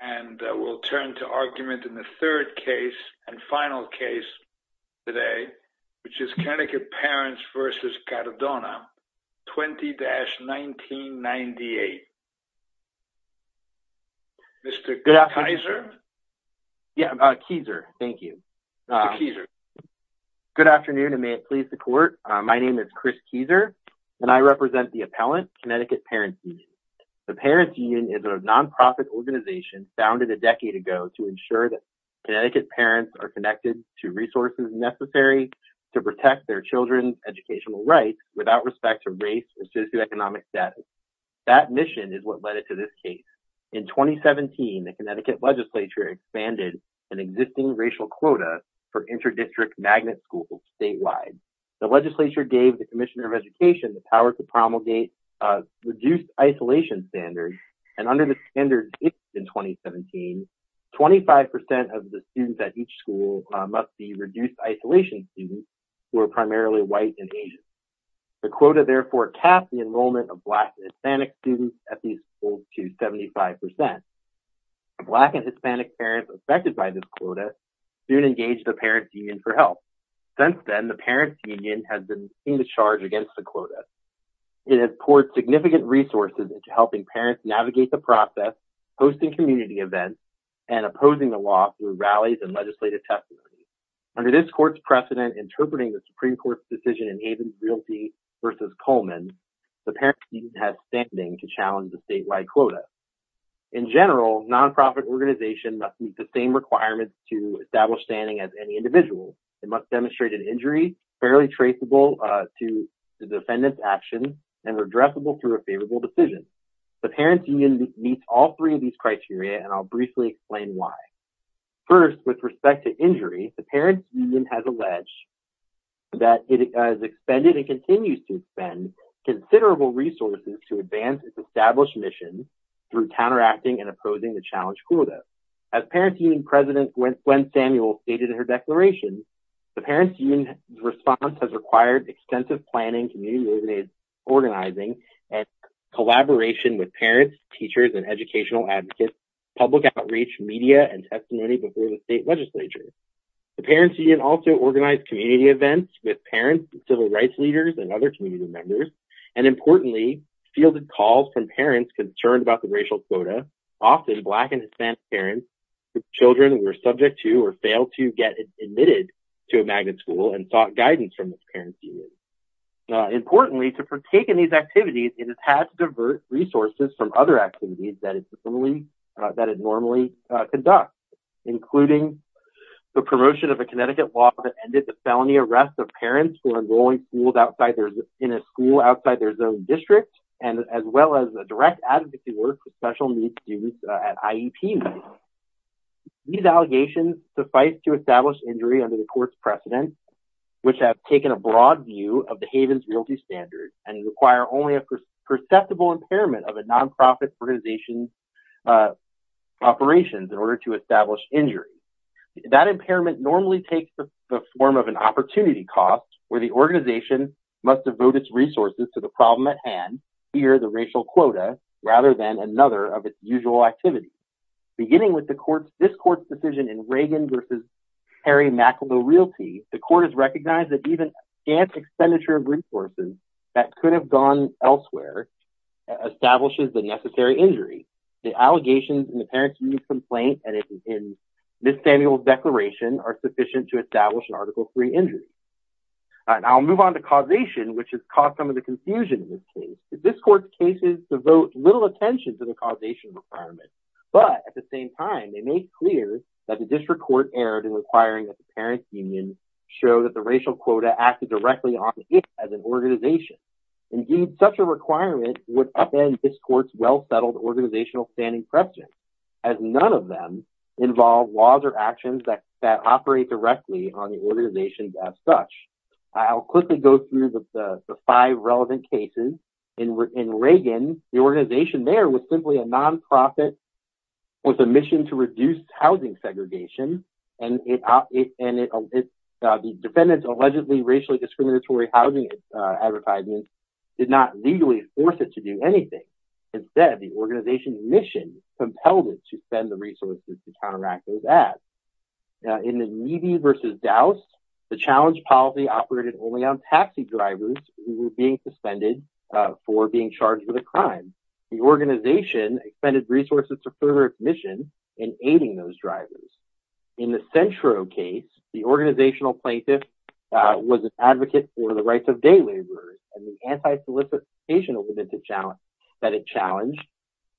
and we'll turn to argument in the third case and final case today which is Connecticut Parents v. Cardona 20-1998. Mr. Keiser? Good afternoon and may it please the court. My name is Chris Keiser and I represent the appellant, Connecticut Parents Union. The Parents Union is a non-profit organization founded a decade ago to ensure that Connecticut parents are connected to resources necessary to protect their children's educational rights without respect to race or socioeconomic status. That mission is what led it to this case. In 2017, the Connecticut legislature expanded an existing racial quota for inter-district magnet schools statewide. The legislature gave the Commissioner of Education the power to promulgate reduced isolation standards and under the standards in 2017, 25% of the students at each school must be reduced isolation students who are primarily white and Asian. The quota therefore capped the enrollment of black and Hispanic students at these schools to 75%. Black and Hispanic parents affected by this quota soon engaged the Parents Union for help. Since then, the Parents Union has been in the charge against the quota. It has poured significant resources into helping parents navigate the process, hosting community events, and opposing the law through rallies and legislative testimony. Under this court's precedent interpreting the Supreme Court's decision in Havens Realty v. Coleman, the Parents Union has standing to challenge the statewide quota. In general, non-profit organizations must meet the same requirements to establish standing as any must demonstrate an injury fairly traceable to the defendant's actions and redressable through a favorable decision. The Parents Union meets all three of these criteria and I'll briefly explain why. First, with respect to injury, the Parents Union has alleged that it has expended and continues to spend considerable resources to advance its established mission through counteracting and The Parents Union's response has required extensive planning, community organizing, and collaboration with parents, teachers, and educational advocates, public outreach, media, and testimony before the state legislature. The Parents Union also organized community events with parents, civil rights leaders, and other community members, and importantly, fielded calls from parents concerned about the racial quota. Often, black and Hispanic parents with children were subject to or failed to get admitted to a magnet school and sought guidance from the Parents Union. Importantly, to partake in these activities, it has had to divert resources from other activities that it normally conducts, including the promotion of a Connecticut law that ended the felony arrest of parents who are enrolling in a school outside their zone district, as well as direct advocacy work for special needs students at IEP meetings. These allegations suffice to establish injury under the court's precedent, which have taken a broad view of the Havens Realty Standards and require only a perceptible impairment of a nonprofit organization's operations in order to establish injury. That impairment normally takes the form of an opportunity cost, where the organization must devote its resources to the problem at hand, here the racial quota, rather than another of its usual activities. Beginning with this court's decision in Reagan v. Harry Mackleville Realty, the court has recognized that even a scant expenditure of resources that could have gone elsewhere establishes the necessary injury. The allegations in the Parents Union's complaint and in Ms. Samuel's declaration are sufficient to And I'll move on to causation, which has caused some of the confusion in this case. This court's cases devote little attention to the causation requirement, but at the same time, they make clear that the district court erred in requiring that the Parents Union show that the racial quota acted directly on it as an organization. Indeed, such a requirement would upend this court's well-settled organizational standing precedent, as none of them involve laws or actions that operate directly on the organization as such. I'll quickly go through the five relevant cases. In Reagan, the organization there was simply a nonprofit with a mission to reduce housing segregation, and the defendant's allegedly racially discriminatory housing advertisement did not legally force it to do anything. Instead, the organization's mission compelled it to spend the resources to counteract those ads. In the Neve v. Dowse, the challenge policy operated only on taxi drivers who were being suspended for being charged with a crime. The organization expended resources to further its mission in aiding those drivers. In the Centro case, the organizational plaintiff was an advocate for the challenge,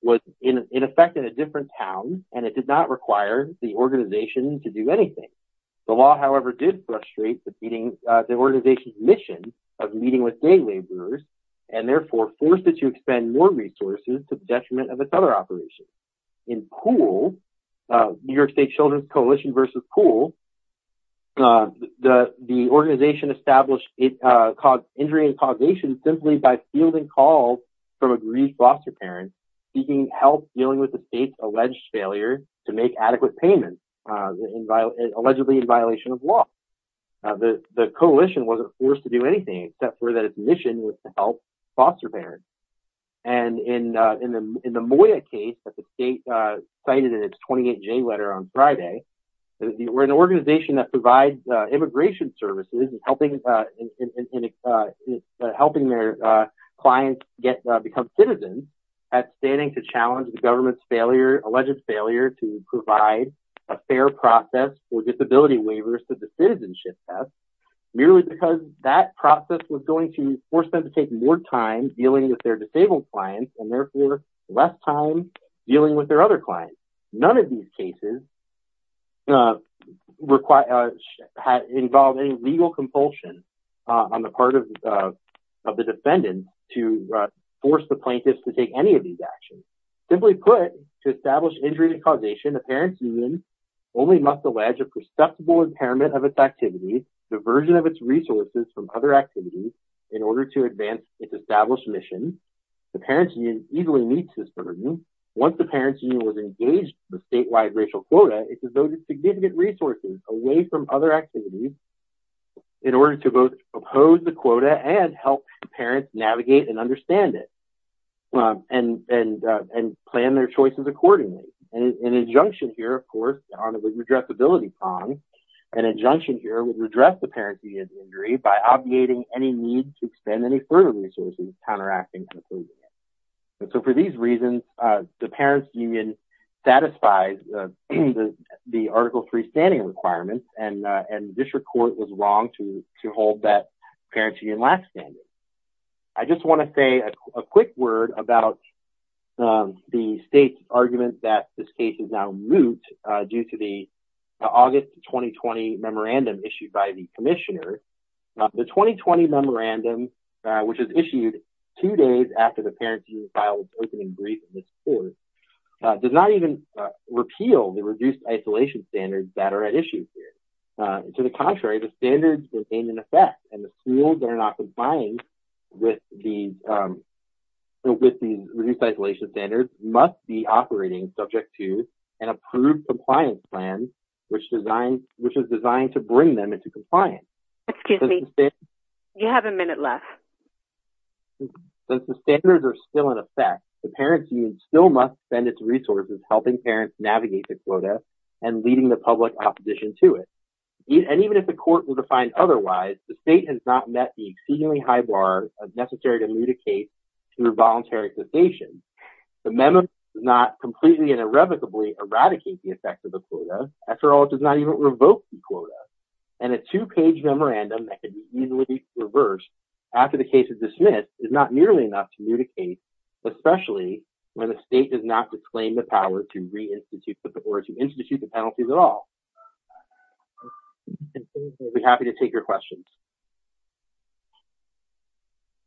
was in effect in a different town, and it did not require the organization to do anything. The law, however, did frustrate the organization's mission of meeting with day laborers, and therefore forced it to expend more resources to the detriment of its other operations. In Poole v. New York State Children's Coalition, the organization established injury and causation simply by fielding calls from aggrieved foster parents seeking help dealing with the state's alleged failure to make adequate payments, allegedly in violation of law. The coalition wasn't forced to do anything except for that its mission was to help foster parents. And in the Moya case that the state cited in its 28-J letter on Friday, where an organization that provides immigration services is helping their clients become citizens, that's standing to challenge the government's alleged failure to provide a fair process for disability waivers to the citizenship test, merely because that process was going to force them to take more time dealing with their disabled clients, and therefore less time dealing with other clients. None of these cases involved any legal compulsion on the part of the defendant to force the plaintiffs to take any of these actions. Simply put, to establish injury and causation, a parent's union only must allege a perceptible impairment of its activities, diversion of its resources from other activities, in order to advance its established mission. The parent's union easily meets this burden. Once the parent's union was engaged in the statewide racial quota, it devoted significant resources away from other activities in order to both oppose the quota and help parents navigate and understand it, and plan their choices accordingly. An injunction here, of course, on the redressability prong, an injunction here would redress the parent's union's injury by obviating any need to expend any further resources counteracting and approving it. For these reasons, the parent's union satisfies the Article III standing requirements, and the district court was wrong to hold that parent's union lax standing. I just want to say a quick word about the state's argument that this case is now moot due to the August 2020 memorandum issued by the commissioner. The 2020 memorandum, which is issued two days after the parent's union filed an opening brief in this court, does not even repeal the reduced isolation standards that are at issue here. To the contrary, the standards retain an effect, and the schools that are not complying with these reduced isolation standards must be operating subject to an approved compliance plan, which is designed to bring them into compliance. Excuse me, you have a minute left. Since the standards are still in effect, the parent's union still must spend its resources helping parents navigate the quota and leading the public opposition to it. And even if the court will define otherwise, the state has not met the exceedingly high bar of necessary to moot a case through voluntary cessation. The memo does not completely and irrevocably eradicate the quota. After all, it does not even revoke the quota. And a two-page memorandum that could easily be reversed after the case is dismissed is not nearly enough to moot a case, especially when the state does not proclaim the power to reinstitute or to institute the penalties at all. I'll be happy to take your questions.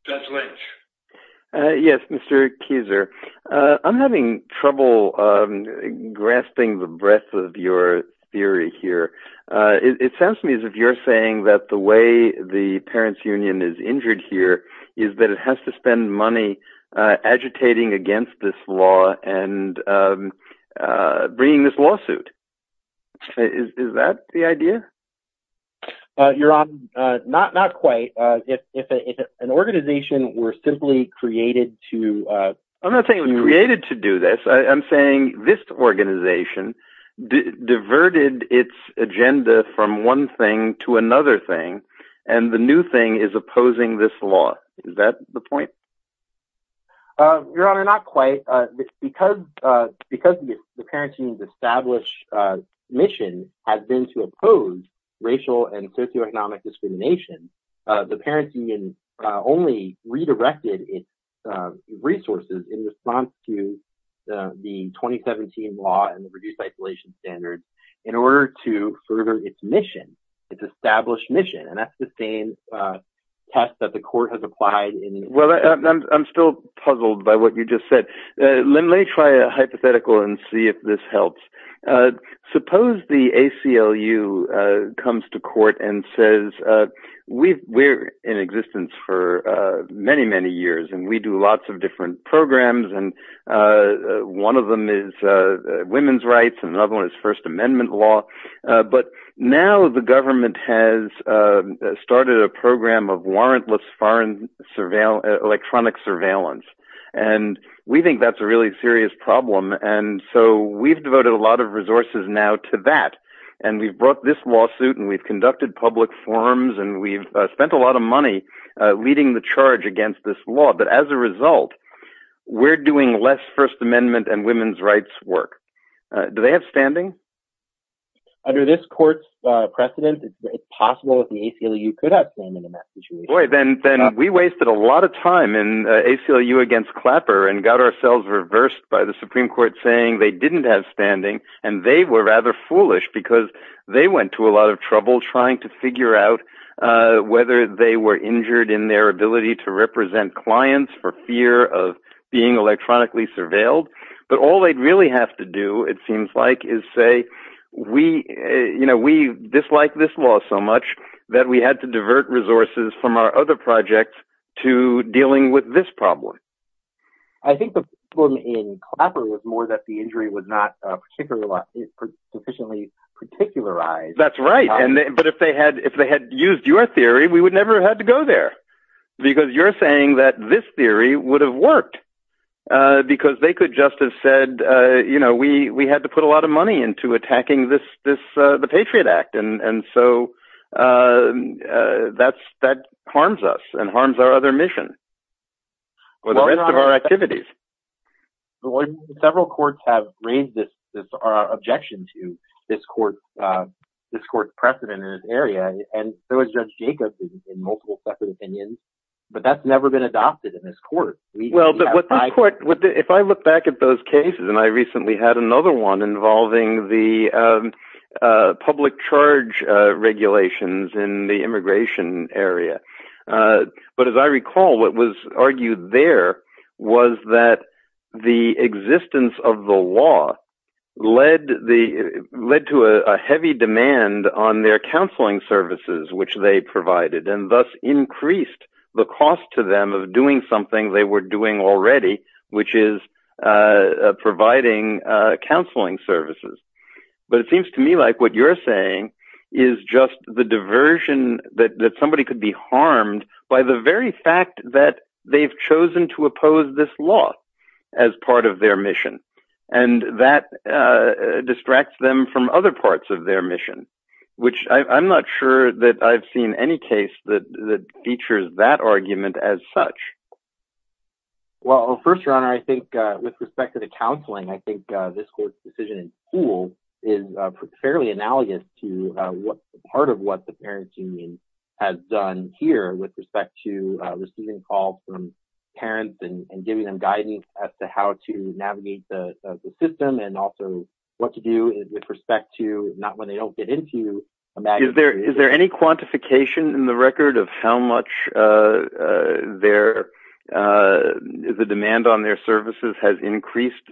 Judge Lynch. Yes, Mr. Kieser. I'm having trouble grasping the breadth of your theory here. It sounds to me as if you're saying that the way the parent's union is injured here is that it has to spend money agitating against this law and bringing this lawsuit. Is that the idea? Your Honor, not quite. If an organization were simply created to- I'm not saying it was created to do this. I'm saying this organization diverted its agenda from one thing to another thing, and the new thing is opposing this law. Is that the point? Your Honor, not quite. Because the parent's union's established mission has been to oppose racial and socioeconomic discrimination, the parent's union only redirected its resources in response to the 2017 law and the reduced isolation standards in order to further its mission, its established mission. And that's the same test that the court has applied in- I'm still puzzled by what you just said. Let me try a hypothetical and see if this helps. Suppose the ACLU comes to court and says, we're in existence for many, many years, and we do lots of different programs, and one of them is women's rights and another one is First Amendment law, but now the government has started a program of warrantless electronic surveillance. And we think that's a really serious problem, and so we've devoted a lot of resources now to that. And we've brought this lawsuit, and we've conducted public forums, and we've spent a lot of money leading the charge against this law. But as a result, we're doing less First Amendment and women's rights work. Do they have standing? Under this court's precedent, it's possible that the ACLU could have standing in that situation. Boy, then we wasted a lot of time in ACLU against Clapper and got ourselves reversed by the Supreme Court saying they didn't have standing, and they were rather foolish because they went to a lot of trouble trying to figure out whether they were injured in their ability to represent clients for fear of being electronically surveilled. But all they'd really have to do, it seems like, is say, we dislike this law so much that we had to divert resources from our other projects to dealing with this problem. I think the problem in Clapper was more that the injury was not sufficiently particularized. That's right. But if they had used your theory, we would never have had to go there because you're saying that this theory would have worked because they could just have said we had to put a lot of money into attacking the Patriot Act. And so that harms us and harms our other mission or the rest of our activities. Well, several courts have raised this objection to this court's precedent in this area, and so has Judge Jacobs in multiple separate opinions, but that's never been adopted in this court. If I look back at those cases, and I recently had another one involving the public charge regulations in the immigration area, but as I recall, what was argued there was that the existence of the law led to a heavy demand on their counseling services, which they provided, and thus increased the cost to them of doing something they were doing already, which is providing counseling services. But it seems to me like what you're saying is just the diversion that somebody could be harmed by the very fact that they've chosen to oppose this law as part of their mission, and that distracts them from other parts of their mission, which I'm not sure that I've seen any case that features that argument as such. Well, first, Your Honor, I think with respect to the counseling, I think this court's decision in school is fairly analogous to part of what the parents' union has done here with respect to receiving calls from parents and giving them guidance as to how to navigate the system, and also what to do with respect to not when they don't get into immigration. Is there any quantification in the record of how much the demand on their services has increased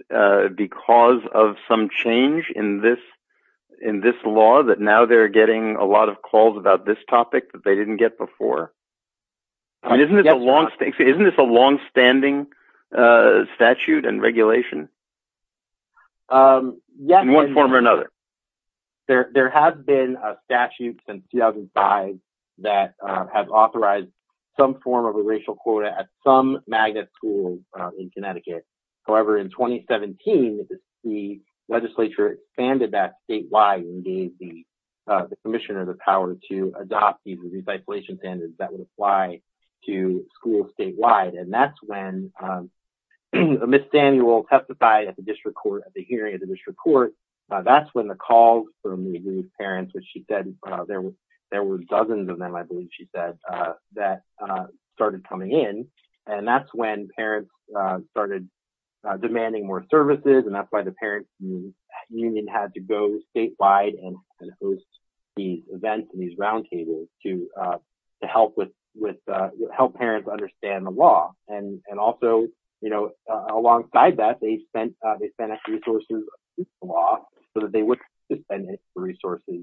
because of some change in this law that now they're getting a lot of calls about this topic that they didn't get before? Isn't this a long-standing statute and regulation in one form or another? There have been statutes since 2005 that have authorized some form of a racial quota at some magnet schools in Connecticut. However, in 2017, the legislature expanded that and that would apply to schools statewide, and that's when Ms. Daniel testified at the hearing of the district court. That's when the calls from these parents, which she said there were dozens of them, I believe she said, that started coming in, and that's when parents started demanding more services, and that's why the parents' union had to go statewide and host these events and these roundtables to help parents understand the law. Also, alongside that, they spent resources on the law so that they wouldn't have to spend resources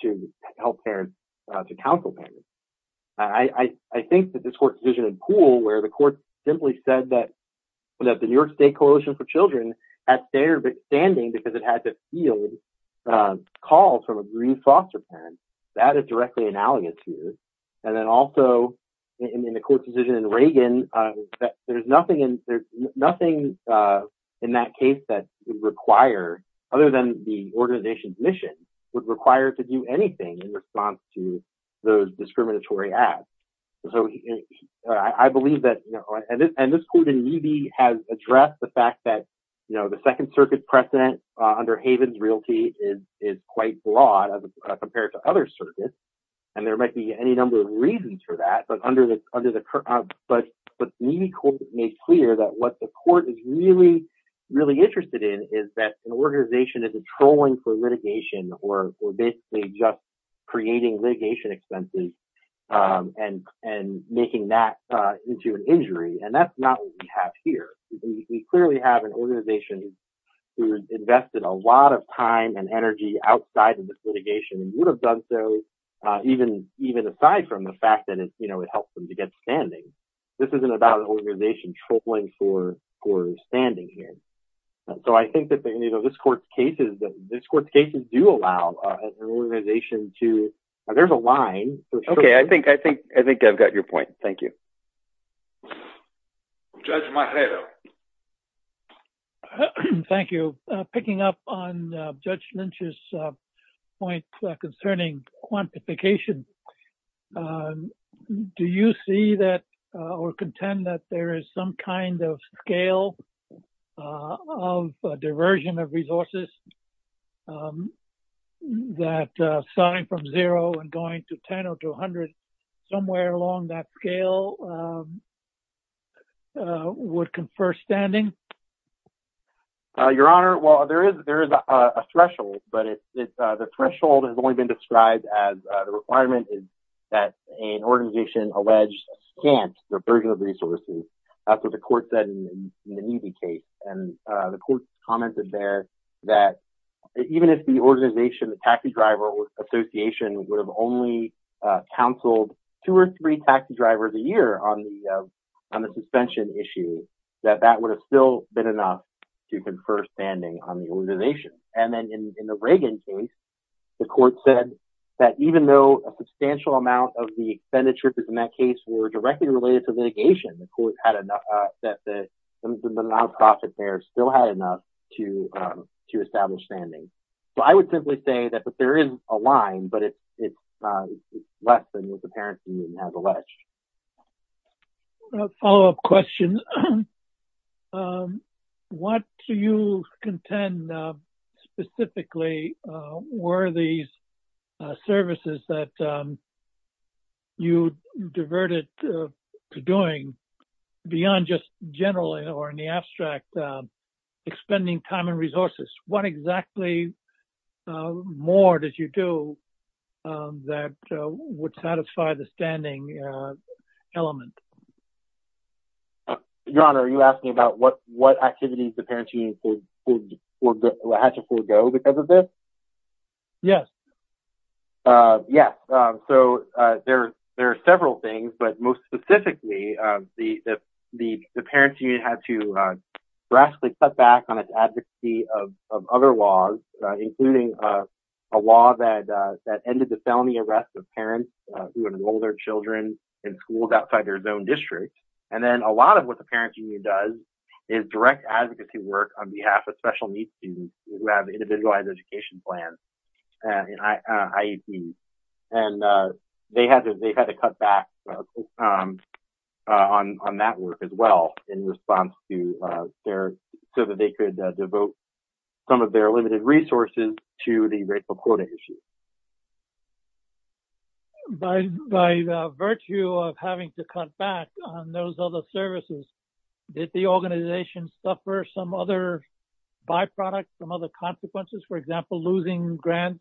to help parents, to counsel parents. I think that this court decision in Poole, where the court simply said that the New York State Coalition for Children had standard of it had to field calls from a green foster parent, that is directly analogous to this. And then also, in the court decision in Reagan, there's nothing in that case that would require, other than the organization's mission, would require it to do anything in response to those discriminatory acts. I believe that, and this court in Yeeby has addressed the fact that the Second Circuit precedent under Haven's Realty is quite broad as compared to other circuits, and there might be any number of reasons for that, but under the, but Yeeby court made clear that what the court is really, really interested in is that an organization isn't trolling for litigation or basically just creating litigation expenses and making that into an injury, and that's not what we have here. We clearly have an organization who invested a lot of time and energy outside of this litigation and would have done so even aside from the fact that it helps them to get standing. This isn't about an organization trolling for standing here. So I think that this court's cases do allow an organization to, there's a line. Okay, I think I've got your point. Thank you. Judge Marrero. Thank you. Picking up on Judge Lynch's point concerning quantification, do you see that or contend that there is some kind of scale of diversion of resources that starting from zero and going to 10 or 200, somewhere along that scale would confer standing? Your Honor, well, there is a threshold, but the threshold has only been described as the requirement is that an organization alleged can't diversion of resources. That's what the court said in the Neavy case, and the court commented there that even if the organization, the taxi driver association would have only counseled two or three taxi drivers a year on the suspension issue, that that would have still been enough to confer standing on the organization. And then in the Reagan case, the court said that even though a substantial amount of the expenditures in that case were directly related to litigation, the court had enough, that the amount of profit there still had enough to establish standing. So I would simply say that there is a line, but it's less than what the parents union has alleged. Follow up question. What do you contend specifically were these services that you diverted to doing beyond just generally or in the abstract, expending time and resources? What exactly more did you do that would satisfy the standing element? Your Honor, are you asking about what activities the parents union had to forgo because of this? Yes. Yes. So there are several things, but most specifically, the parents union had to drastically cut back on its advocacy of other laws, including a law that ended the felony arrest of parents who enrolled their children in schools outside their zone district. And then a lot of what the parents union does is direct advocacy work on behalf of special needs students who have individualized education plans in IEP. And they had to cut back on that work as well in response so that they could devote some of their limited resources to the racial quota issue. By virtue of having to cut back on those other services, did the organization suffer some other byproducts, some other consequences, for example, losing grants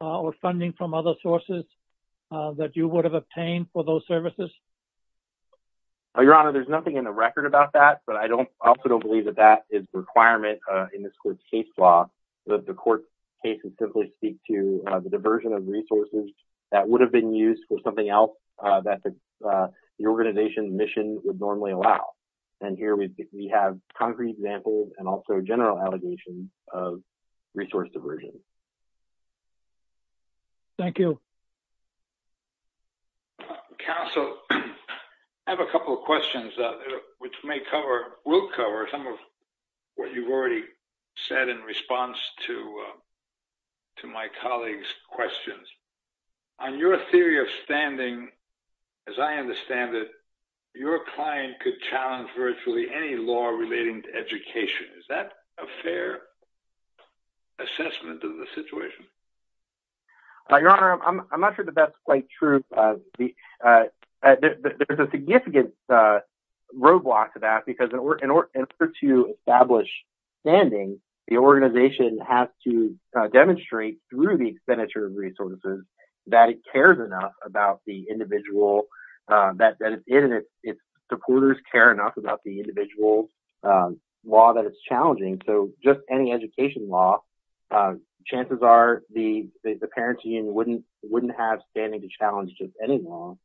or funding from other sources that you would have obtained for those services? Your Honor, there's nothing in the record about that, but I also don't believe that that is a requirement in this court's case law, that the court's cases simply speak to the diversion of resources that would have been used for something else that the organization mission would normally allow. And here we have concrete examples and also general allegations of resource diversion. Thank you. Counsel, I have a couple of questions which may cover, will cover some of what you've already said in response to my colleague's questions. On your theory of standing, as I understand it, your client could challenge virtually any law relating to education. Is that a fair assessment of the situation? Your Honor, I'm not sure that that's quite true. There's a significant roadblock to that because in order to establish standing, the organization has to demonstrate through the expenditure of resources that it cares enough about the individual that it's in, and its supporters care enough about the individual's law that it's challenging. So, just any education law, chances are the Parents' Union wouldn't have standing to challenge just any law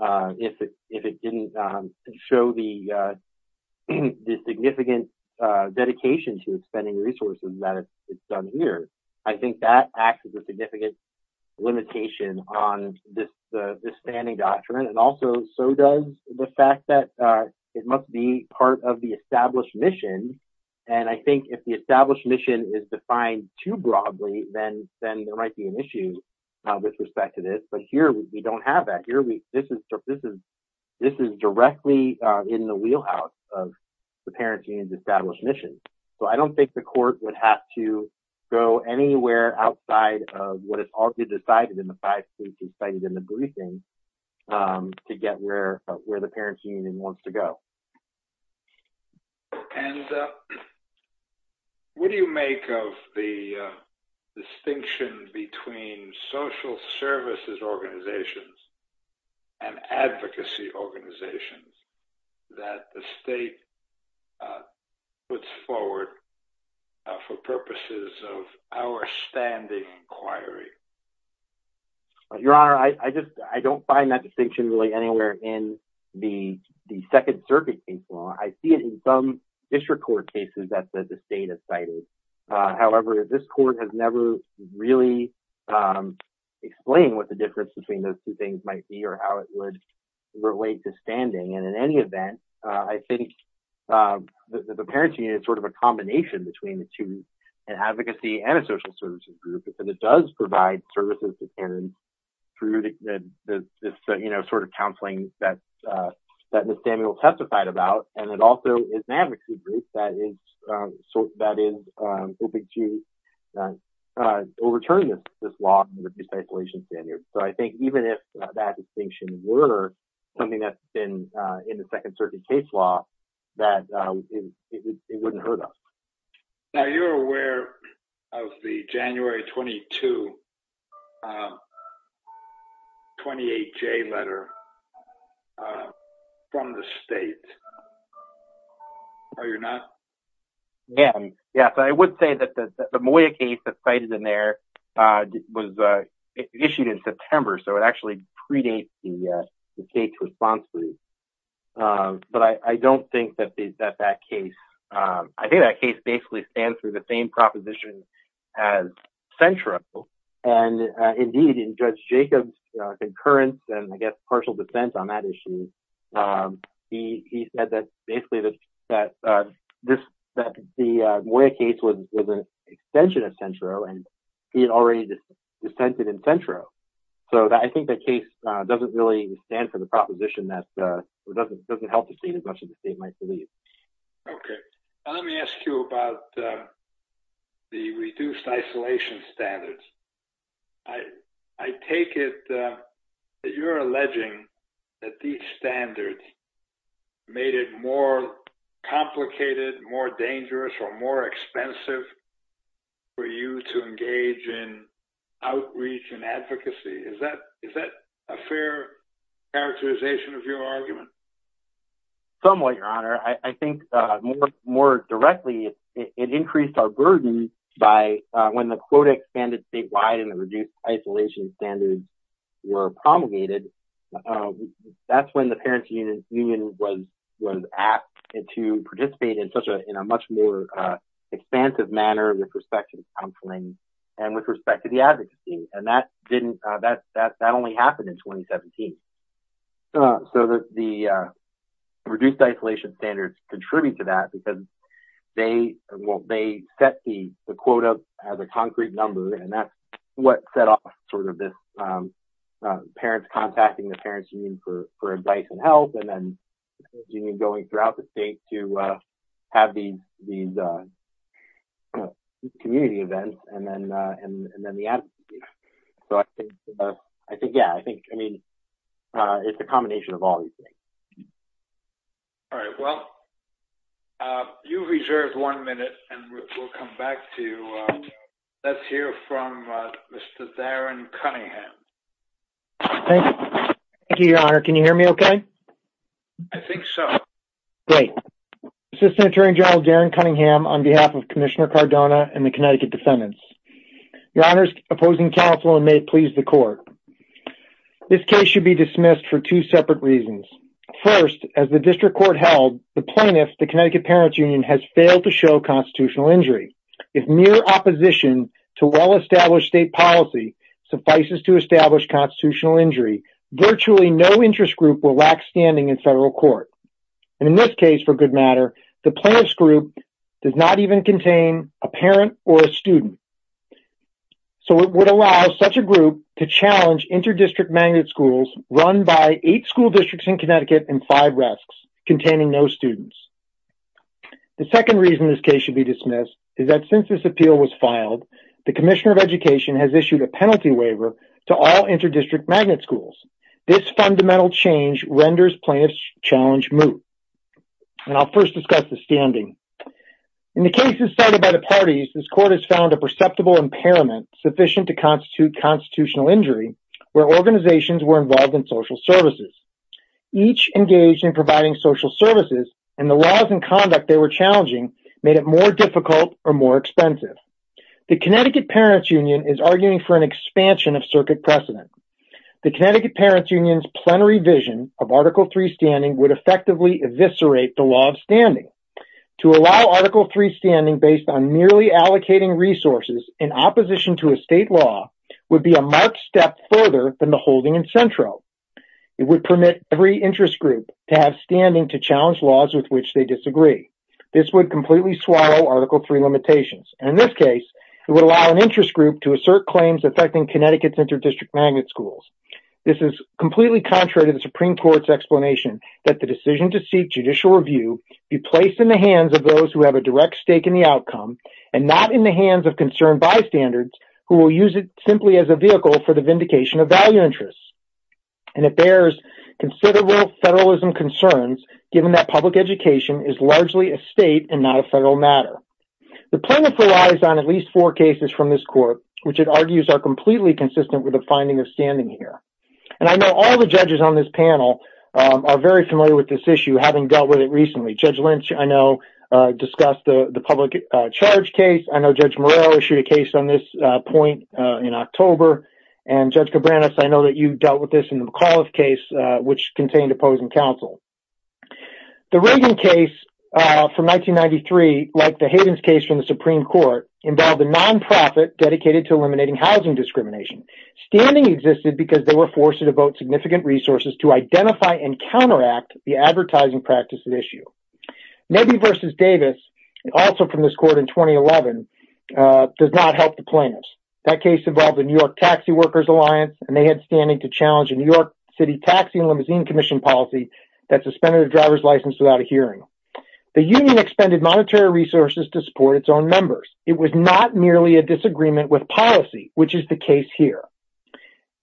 if it didn't show the significant dedication to expending resources that it's here. I think that acts as a significant limitation on this standing doctrine, and also so does the fact that it must be part of the established mission. And I think if the established mission is defined too broadly, then there might be an issue with respect to this. But here, we don't have that. This is directly in the wheelhouse of the Parents' Union's established mission. So, I don't think the court would have to go anywhere outside of what is already decided in the five cases cited in the briefing to get where the Parents' Union wants to go. And what do you make of the distinction between social services organizations and advocacy organizations that the state puts forward for purposes of our standing inquiry? Your Honor, I don't find that distinction really anywhere in the Second Circuit case law. I see it in some district court cases that the state has cited. However, this court has never really explained what the difference between those two things might be or how it would relate to standing. And in any event, I think the Parents' Union is sort of a combination between the two, an advocacy and a social services group, because it does provide services to parents through this sort of counseling that Ms. Samuel testified about. And it also is an advocacy group that is hoping to overturn this law and reduce isolation standards. So, I think even if that distinction were something that's been in the Second Circuit case law, that it wouldn't hurt us. Now, you're aware of the January 22 28-J letter from the state, are you not? Yes. I would say that the Moya case that's cited in there was issued in September, so it actually predates the state's response to these. But I don't think that that case, I think that case basically stands for the same proposition as Centro. And indeed, in Judge Jacob's concurrence and I guess partial dissent on that issue, he said that basically that the Moya case was an extension of Centro and he had already dissented in Centro. So, I think that case doesn't really stand for the proposition that doesn't help the state as much as the state might believe. Okay. Let me ask you about the reduced isolation standards. I take it that you're alleging that these standards made it more complicated, more dangerous, or more expensive for you to engage in outreach and advocacy. Is that a fair characterization of your argument? Somewhat, Your Honor. I think more directly, it increased our burden by when the quota expanded statewide and the reduced isolation standards were promulgated. That's when the Parents Union was asked to participate in a much more expansive manner with respect to counseling and with respect to the advocacy. And that only happened in 2017. So, the reduced isolation standards contribute to that because they set the quota as a concrete number and that's what set off sort of this parents contacting the Parents Union for advice and help. And then the Parents Union going throughout the state to have these community events and then the advocacy. So, I think, yeah, I think, I mean, it's a combination of all these things. All right. Well, you reserved one minute and we'll come back to you. Let's hear from Mr. Darren Cunningham. Thank you, Your Honor. Can you hear me okay? I think so. Great. Assistant Attorney General Darren Cunningham on behalf of Commissioner Cardona and the Connecticut defendants. Your Honor's opposing counsel and may it please the court. This case should be dismissed for two separate reasons. First, as the district court held, the plaintiff, the Connecticut Parents Union has failed to show constitutional injury. If mere opposition to well-established state policy suffices to establish constitutional injury, virtually no interest group will lack standing in federal court. And in this case, for good matter, the plaintiff's group does not even a parent or a student. So, it would allow such a group to challenge inter-district magnet schools run by eight school districts in Connecticut and five rests containing no students. The second reason this case should be dismissed is that since this appeal was filed, the Commissioner of Education has issued a penalty waiver to all inter-district magnet schools. This fundamental change renders plaintiff's challenge moot. And I'll first discuss the parties. This court has found a perceptible impairment sufficient to constitute constitutional injury where organizations were involved in social services. Each engaged in providing social services and the laws and conduct they were challenging made it more difficult or more expensive. The Connecticut Parents Union is arguing for an expansion of circuit precedent. The Connecticut Parents Union's plenary vision of Article III standing would effectively eviscerate the law of standing. To allow Article III standing based on merely allocating resources in opposition to a state law would be a marked step further than the holding in Centro. It would permit every interest group to have standing to challenge laws with which they disagree. This would completely swallow Article III limitations. And in this case, it would allow an interest group to assert claims affecting Connecticut's inter-district magnet schools. This is completely contrary to the Supreme Court's explanation that the decision to seek judicial review be placed in the hands of those who have a direct stake in the outcome and not in the hands of concerned bystanders who will use it simply as a vehicle for the vindication of value interests. And it bears considerable federalism concerns given that public education is largely a state and not a federal matter. The plaintiff relies on at least four cases from this court which it argues are completely consistent with the finding of standing here. And I know all the judges on this panel are very familiar with this issue having dealt with it recently. Judge Lynch, I know, discussed the public charge case. I know Judge Moreau issued a case on this point in October. And Judge Cabranes, I know that you dealt with this in the McAuliffe case which contained opposing counsel. The Reagan case from 1993, like the Hayden's case from the Supreme Court, involved a non-profit dedicated to eliminating housing discrimination. Standing existed because they were forced to devote significant resources to identify and counteract the advertising practices issue. Nebbe versus Davis, also from this court in 2011, does not help the plaintiffs. That case involved the New York Taxi Workers Alliance and they had standing to challenge a New York City Taxi and Limousine Commission policy that suspended a driver's license without a hearing. The union expended monetary resources to support its own It was not merely a disagreement with policy, which is the case here.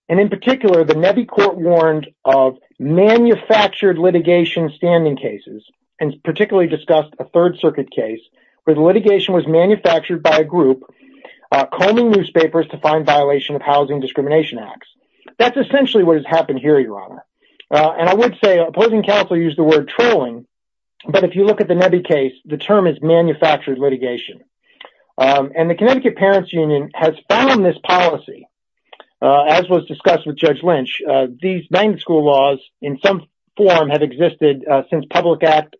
And in particular, the Nebbe court warned of manufactured litigation standing cases and particularly discussed a Third Circuit case where the litigation was manufactured by a group combing newspapers to find violation of housing discrimination acts. That's essentially what has happened here, Your Honor. And I would say opposing counsel used the word trolling, but if you look at the Nebbe case, the term is manufactured litigation. And the Connecticut Parents Union has found this policy. As was discussed with Judge Lynch, these bank school laws in some form have existed since a public act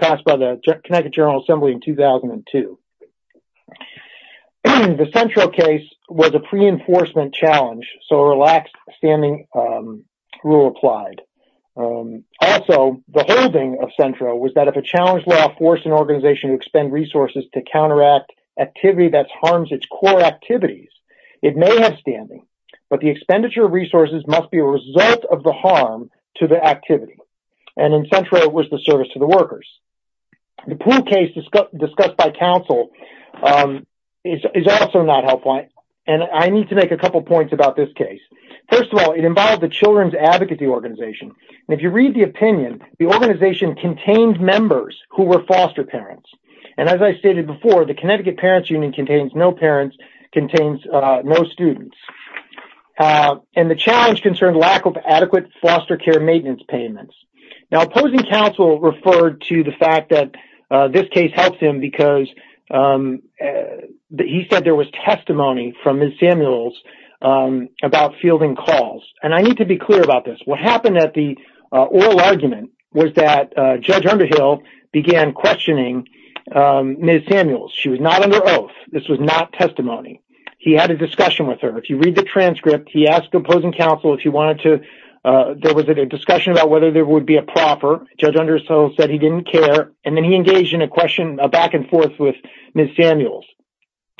passed by the Connecticut General Assembly in 2002. The central case was a pre-enforcement challenge, so a relaxed standing rule applied. Also, the holding of Centro was that if a challenge law forced an organization to expend resources to counteract activity that harms its core activities, it may have standing, but the expenditure of resources must be a result of the harm to the activity. And in Centro, it was the service to the workers. The Plu case discussed by counsel is also not helpline. And I need to make a couple points about this case. First of all, it involved the Children's Advocacy Organization. And if you read the opinion, the organization contained members who were foster parents. And as I stated before, the Connecticut Parents Union contains no parents, contains no students. And the challenge concerned lack of adequate foster care maintenance payments. Now, opposing counsel referred to the fact that this case helps him because he said there was testimony from Ms. Samuels about fielding calls. And I need to be clear about this. What happened at the oral argument was that Judge Underhill began questioning Ms. Samuels. She was not under oath. This was not testimony. He had a discussion with her. If you read the transcript, he asked opposing counsel if he wanted to – there was a discussion about whether there would be a proffer. Judge Underhill said he didn't care. And then he questioned back and forth with Ms. Samuels.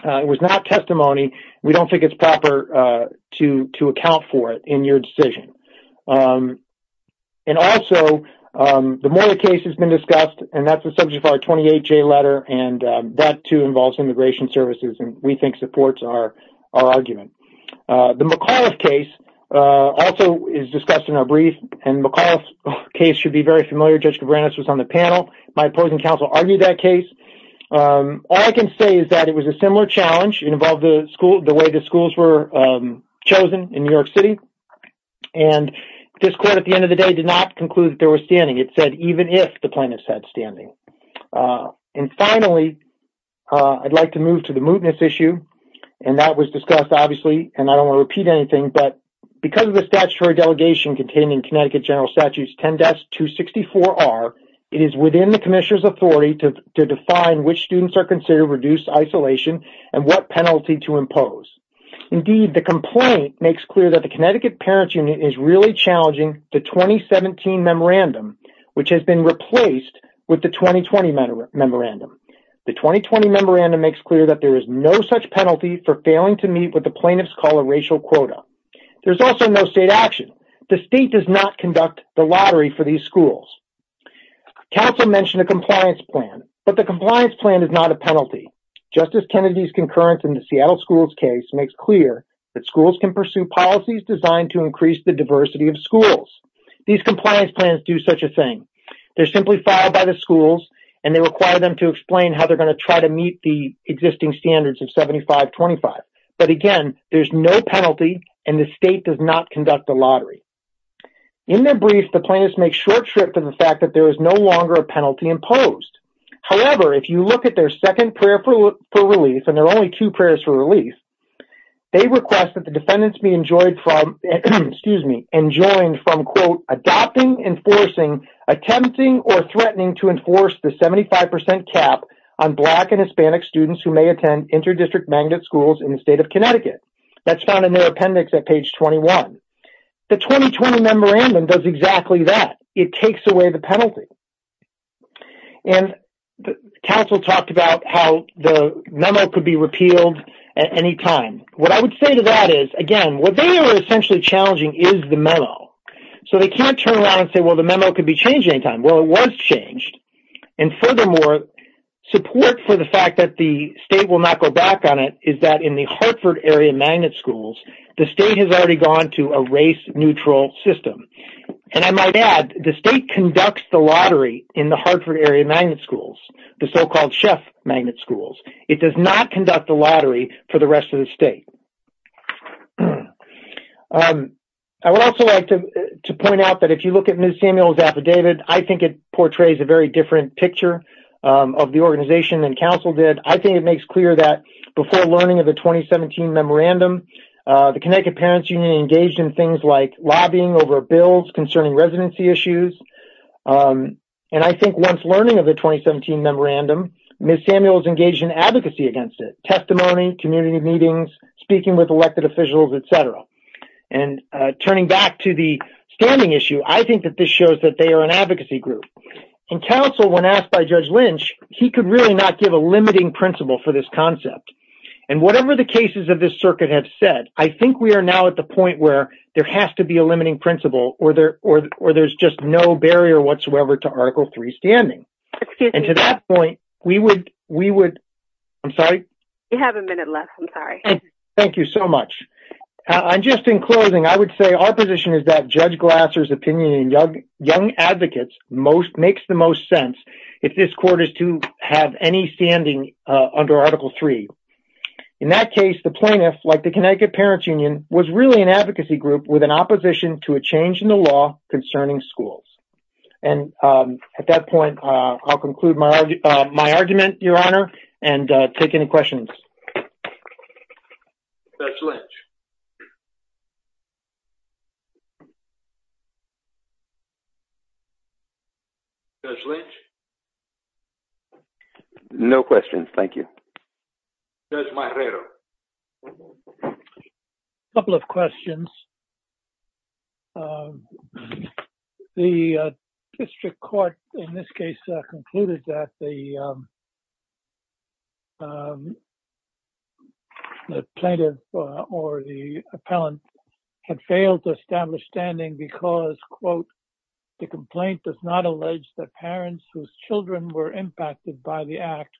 It was not testimony. We don't think it's proper to account for it in your decision. And also, the Mueller case has been discussed. And that's the subject of our 28-J letter. And that, too, involves immigration services and we think supports our argument. The McAuliffe case also is discussed in our brief. And McAuliffe case should be very familiar. Judge Cabranes was on the panel. My opposing counsel argued that case. All I can say is that it was a similar challenge. It involved the way the schools were chosen in New York City. And this court, at the end of the day, did not conclude that they were standing. It said even if the plaintiffs had standing. And finally, I'd like to move to the mootness issue. And that was discussed, obviously, and I don't want to repeat anything, but because of the statute 264R, it is within the commissioner's authority to define which students are considered reduced isolation and what penalty to impose. Indeed, the complaint makes clear that the Connecticut Parents Union is really challenging the 2017 memorandum, which has been replaced with the 2020 memorandum. The 2020 memorandum makes clear that there is no such penalty for failing to meet what the plaintiffs call a racial quota. There's also no state action. The state does not conduct the lottery for these schools. Counsel mentioned a compliance plan, but the compliance plan is not a penalty. Justice Kennedy's concurrence in the Seattle schools case makes clear that schools can pursue policies designed to increase the diversity of schools. These compliance plans do such a thing. They're simply filed by the schools and they require them to explain how they're going to try to meet the existing standards of 75-25. But again, there's no penalty and the in their brief, the plaintiffs make short shrift to the fact that there is no longer a penalty imposed. However, if you look at their second prayer for relief, and there are only two prayers for relief, they request that the defendants be enjoyed from, excuse me, enjoined from quote adopting, enforcing, attempting, or threatening to enforce the 75% cap on Black and Hispanic students who may attend inter-district magnet schools in the state of Connecticut. That's found in their appendix at page 21. The 2020 memorandum does exactly that. It takes away the penalty. And counsel talked about how the memo could be repealed at any time. What I would say to that is, again, what they were essentially challenging is the memo. So they can't turn around and say, well, the memo could be changed anytime. Well, it was changed. And furthermore, support for the fact that the state will not go back on it is that in the Hartford area magnet schools, the state has already gone to a race-neutral system. And I might add, the state conducts the lottery in the Hartford area magnet schools, the so-called chef magnet schools. It does not conduct the lottery for the rest of the state. I would also like to point out that if you look at Ms. Samuel's affidavit, I think it portrays a very different picture of the organization than counsel did. I think it makes clear that before learning of the 2017 memorandum, the Connecticut Parents Union engaged in things like lobbying over bills concerning residency issues. And I think once learning of the 2017 memorandum, Ms. Samuel's engaged in advocacy against it, testimony, community meetings, speaking with elected officials, et cetera. And turning back to the standing issue, I think that shows that they are an advocacy group. And counsel, when asked by Judge Lynch, he could really not give a limiting principle for this concept. And whatever the cases of this circuit have said, I think we are now at the point where there has to be a limiting principle or there's just no barrier whatsoever to Article III standing. And to that point, we would... I'm sorry? We have a minute left. I'm sorry. Thank you so much. And just in closing, I would say our position is that Judge Glasser's opinion in Young Advocates makes the most sense if this court is to have any standing under Article III. In that case, the plaintiff, like the Connecticut Parents Union, was really an advocacy group with an opposition to a change in the law concerning schools. And at that point, I'll conclude my argument, Your Honor, and take any questions. Judge Lynch. No questions. Thank you. Judge Marrero. A couple of questions. The district court, in this case, concluded that the plaintiff or the complaint does not allege that parents whose children were impacted by the act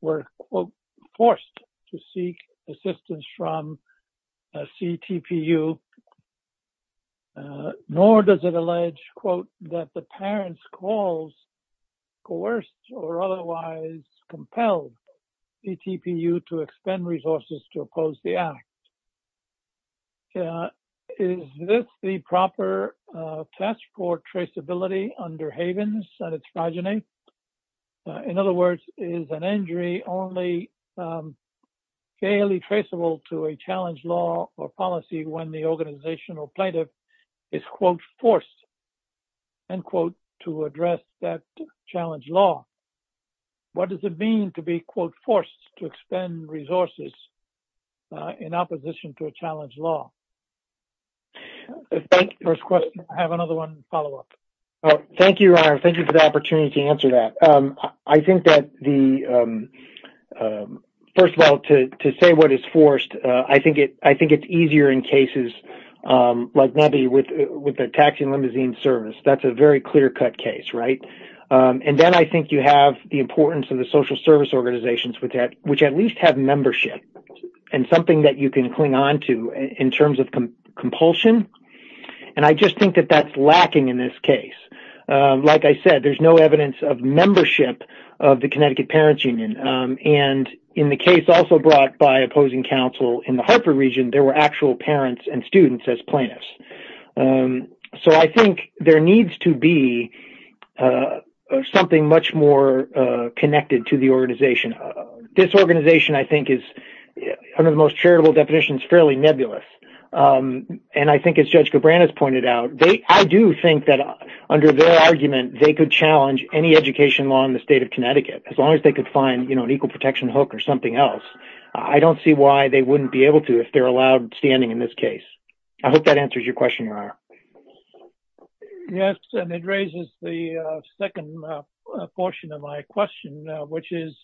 were, quote, forced to seek assistance from a CTPU, nor does it allege, quote, that the parents calls coerced or otherwise compelled CTPU to expend resources to oppose the act. Is this the proper task for traceability under Havens and its progeny? In other words, is an injury only fairly traceable to a challenge law or policy when the organizational plaintiff is, quote, forced, end quote, to address that challenge law? What does it mean to be, quote, resources in opposition to a challenge law? First question. I have another one follow up. Thank you, Your Honor. Thank you for the opportunity to answer that. I think that the, first of all, to say what is forced, I think it's easier in cases like maybe with the taxi and limousine service. That's a very clear cut case, right? And then I think you have the importance of the social service organizations, which at least have membership and something that you can cling on to in terms of compulsion. And I just think that that's lacking in this case. Like I said, there's no evidence of membership of the Connecticut Parents Union. And in the case also brought by opposing counsel in the Hartford region, there were actual parents and students as plaintiffs. So I think there needs to be something much more connected to the organization. This organization, I think, is under the most charitable definitions, fairly nebulous. And I think as Judge Cabrera has pointed out, I do think that under their argument, they could challenge any education law in the state of Connecticut, as long as they could find, you know, an equal protection hook or something else. I don't see why they wouldn't be able to if they're allowed standing in this case. I hope that answers your question, Your Honor. Yes, and it raises the second portion of my question, which is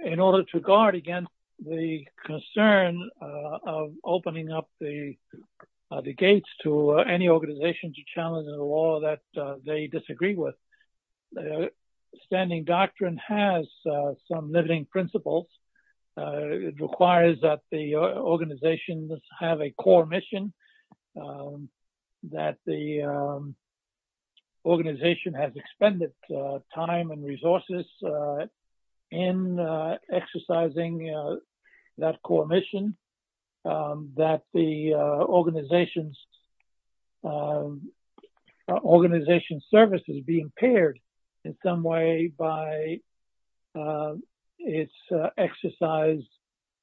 in order to guard against the concern of opening up the gates to any organization to challenge the law that they disagree with, the standing doctrine has some limiting principles. It requires that the organizations have a core mission, that the organization has expended time and resources in exercising that core mission, that the organization's service is being paired in some way by its exercise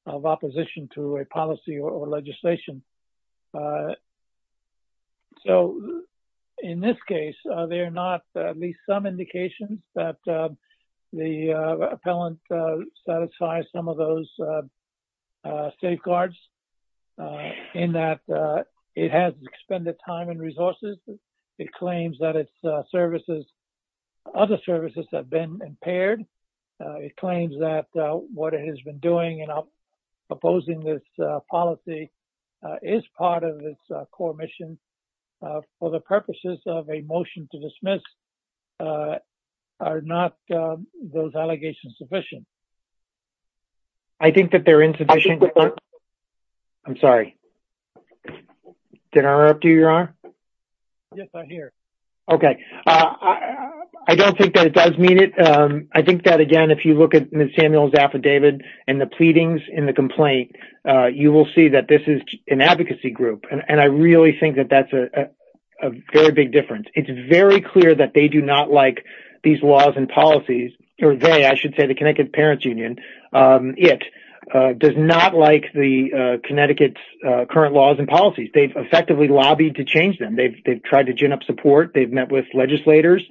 of opposition to a policy or legislation. So, in this case, there are not at least some indications that the appellant satisfies some of those safeguards, in that it has expended time and resources. It claims that its services, other services have been impaired. It claims that what it has been doing in opposing this policy is part of its core mission. For the purposes of a motion to dismiss, are not those allegations sufficient? I think that they're insufficient. I'm sorry. Did I interrupt you, Your Honor? Yes, I'm here. Okay. I don't think that it does mean it. I think that, again, if you look at Ms. Samuel's affidavit and the pleadings in the advocacy group, and I really think that that's a very big difference. It's very clear that they do not like these laws and policies, or they, I should say, the Connecticut Parents Union, does not like Connecticut's current laws and policies. They've effectively lobbied to change them. They've tried to gin up support. They've met with legislators.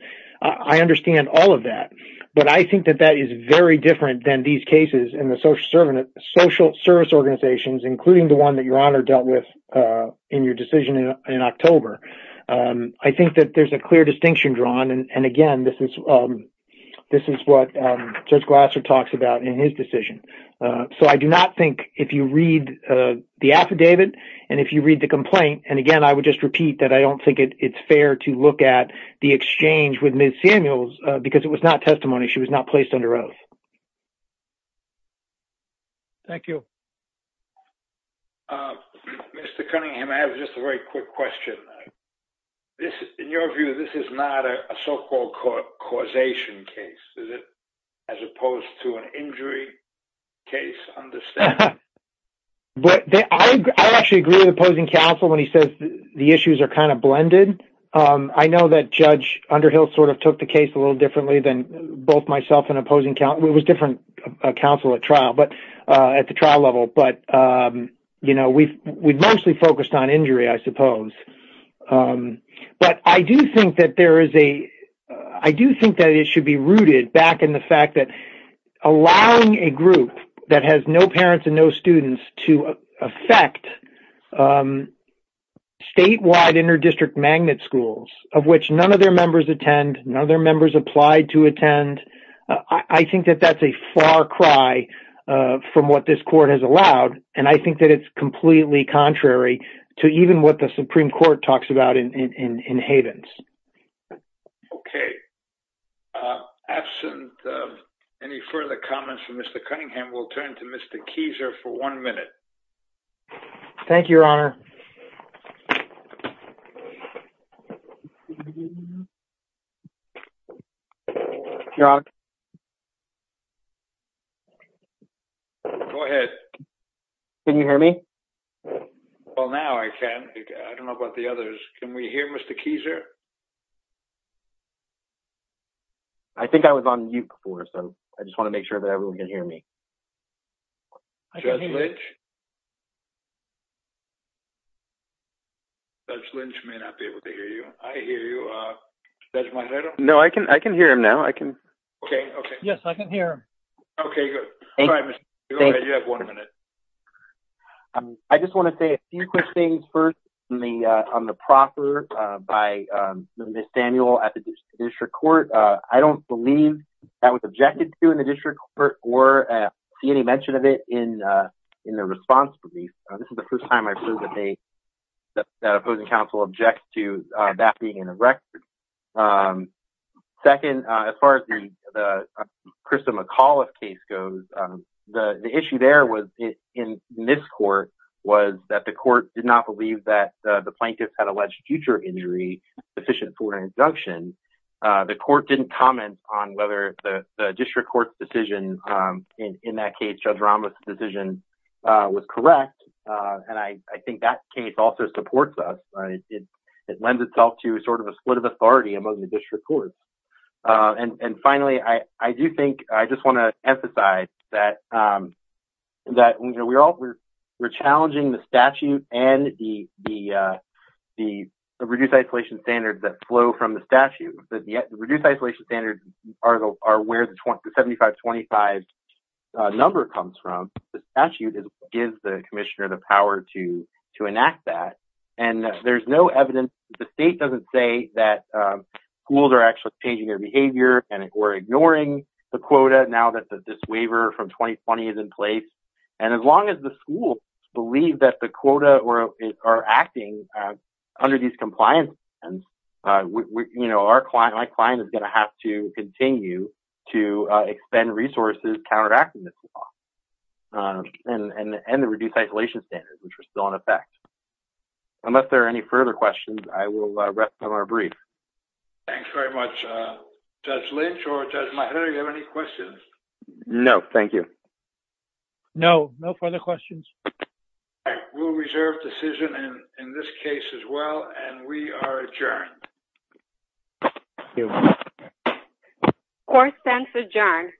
I understand all of that, but I think that that is very different than these cases in the social service organizations, including the one that Your Honor dealt with in your decision in October. I think that there's a clear distinction drawn. Again, this is what Judge Glasser talks about in his decision. I do not think, if you read the affidavit and if you read the complaint, and again, I would just repeat that I don't think it's fair to look at the exchange with Ms. Samuel's because it was not testimony. She was not placed under oath. Thank you. Mr. Cunningham, I have just a very quick question. In your view, this is not a so-called causation case, is it? As opposed to an injury case, understand? I actually agree with opposing counsel when he says the issues are kind of blended. I know that Underhill sort of took the case a little differently than both myself and opposing counsel. It was different counsel at the trial level, but we've mostly focused on injury, I suppose. But I do think that it should be rooted back in the fact that allowing a group that has no parents and no students to affect statewide inter-district magnet schools, of which none of their members attend, none of their members applied to attend, I think that that's a far cry from what this court has allowed, and I think that it's completely contrary to even what the Supreme Court talks about in Havens. Okay. Absent any further comments from Mr. Cunningham, we'll turn to Mr. Kieser for one minute. Thank you, Your Honor. Go ahead. Can you hear me? Well, now I can. I don't know about the others. Can we hear Mr. Kieser? I think I was on mute before, so I just want to make sure that everyone can hear me. Judge Lynch? Judge Lynch may not be able to hear you. I hear you. Judge Montero? No, I can hear him now. I can. Okay. Okay. Yes, I can hear him. Okay, good. All right, Mr. Kieser, you have one minute. I just want to say a few quick things first on the proffer by Ms. Daniel at the district court. I don't believe that was objected to in the district court or see any mention of it in the response brief. This is the first time I've heard that the opposing counsel objected to that being in the record. Second, as far as the Krista McAuliffe case goes, the issue there in this court was that the court did not believe that the plaintiffs had alleged future injury sufficient for an injunction. The court didn't comment on whether the district court's decision in that case, Judge Ramos' decision, was correct. I think that case also supports us. It lends itself to sort of a split of authority among the district courts. Finally, I do think I just want to emphasize that we're challenging the statute and the reduced isolation standards that flow from the statute. The reduced isolation standards are where the 7525 number comes from. The statute gives the commissioner the power to enact that. There's no evidence. The state doesn't say that schools are actually changing their behavior and we're ignoring the quota now that the diswaiver from 2020 is in place. As long as schools believe that the quota are acting under these compliance standards, my client is going to have to continue to expend resources counteracting this law and the reduced isolation standards, which are still in effect. Unless there are any further questions, I will rest on our brief. Thanks very much. Judge Lynch or Judge Meijer, do you have any questions? No, thank you. No, no further questions. We'll reserve decision in this case as well and we are adjourned. Court stands adjourned.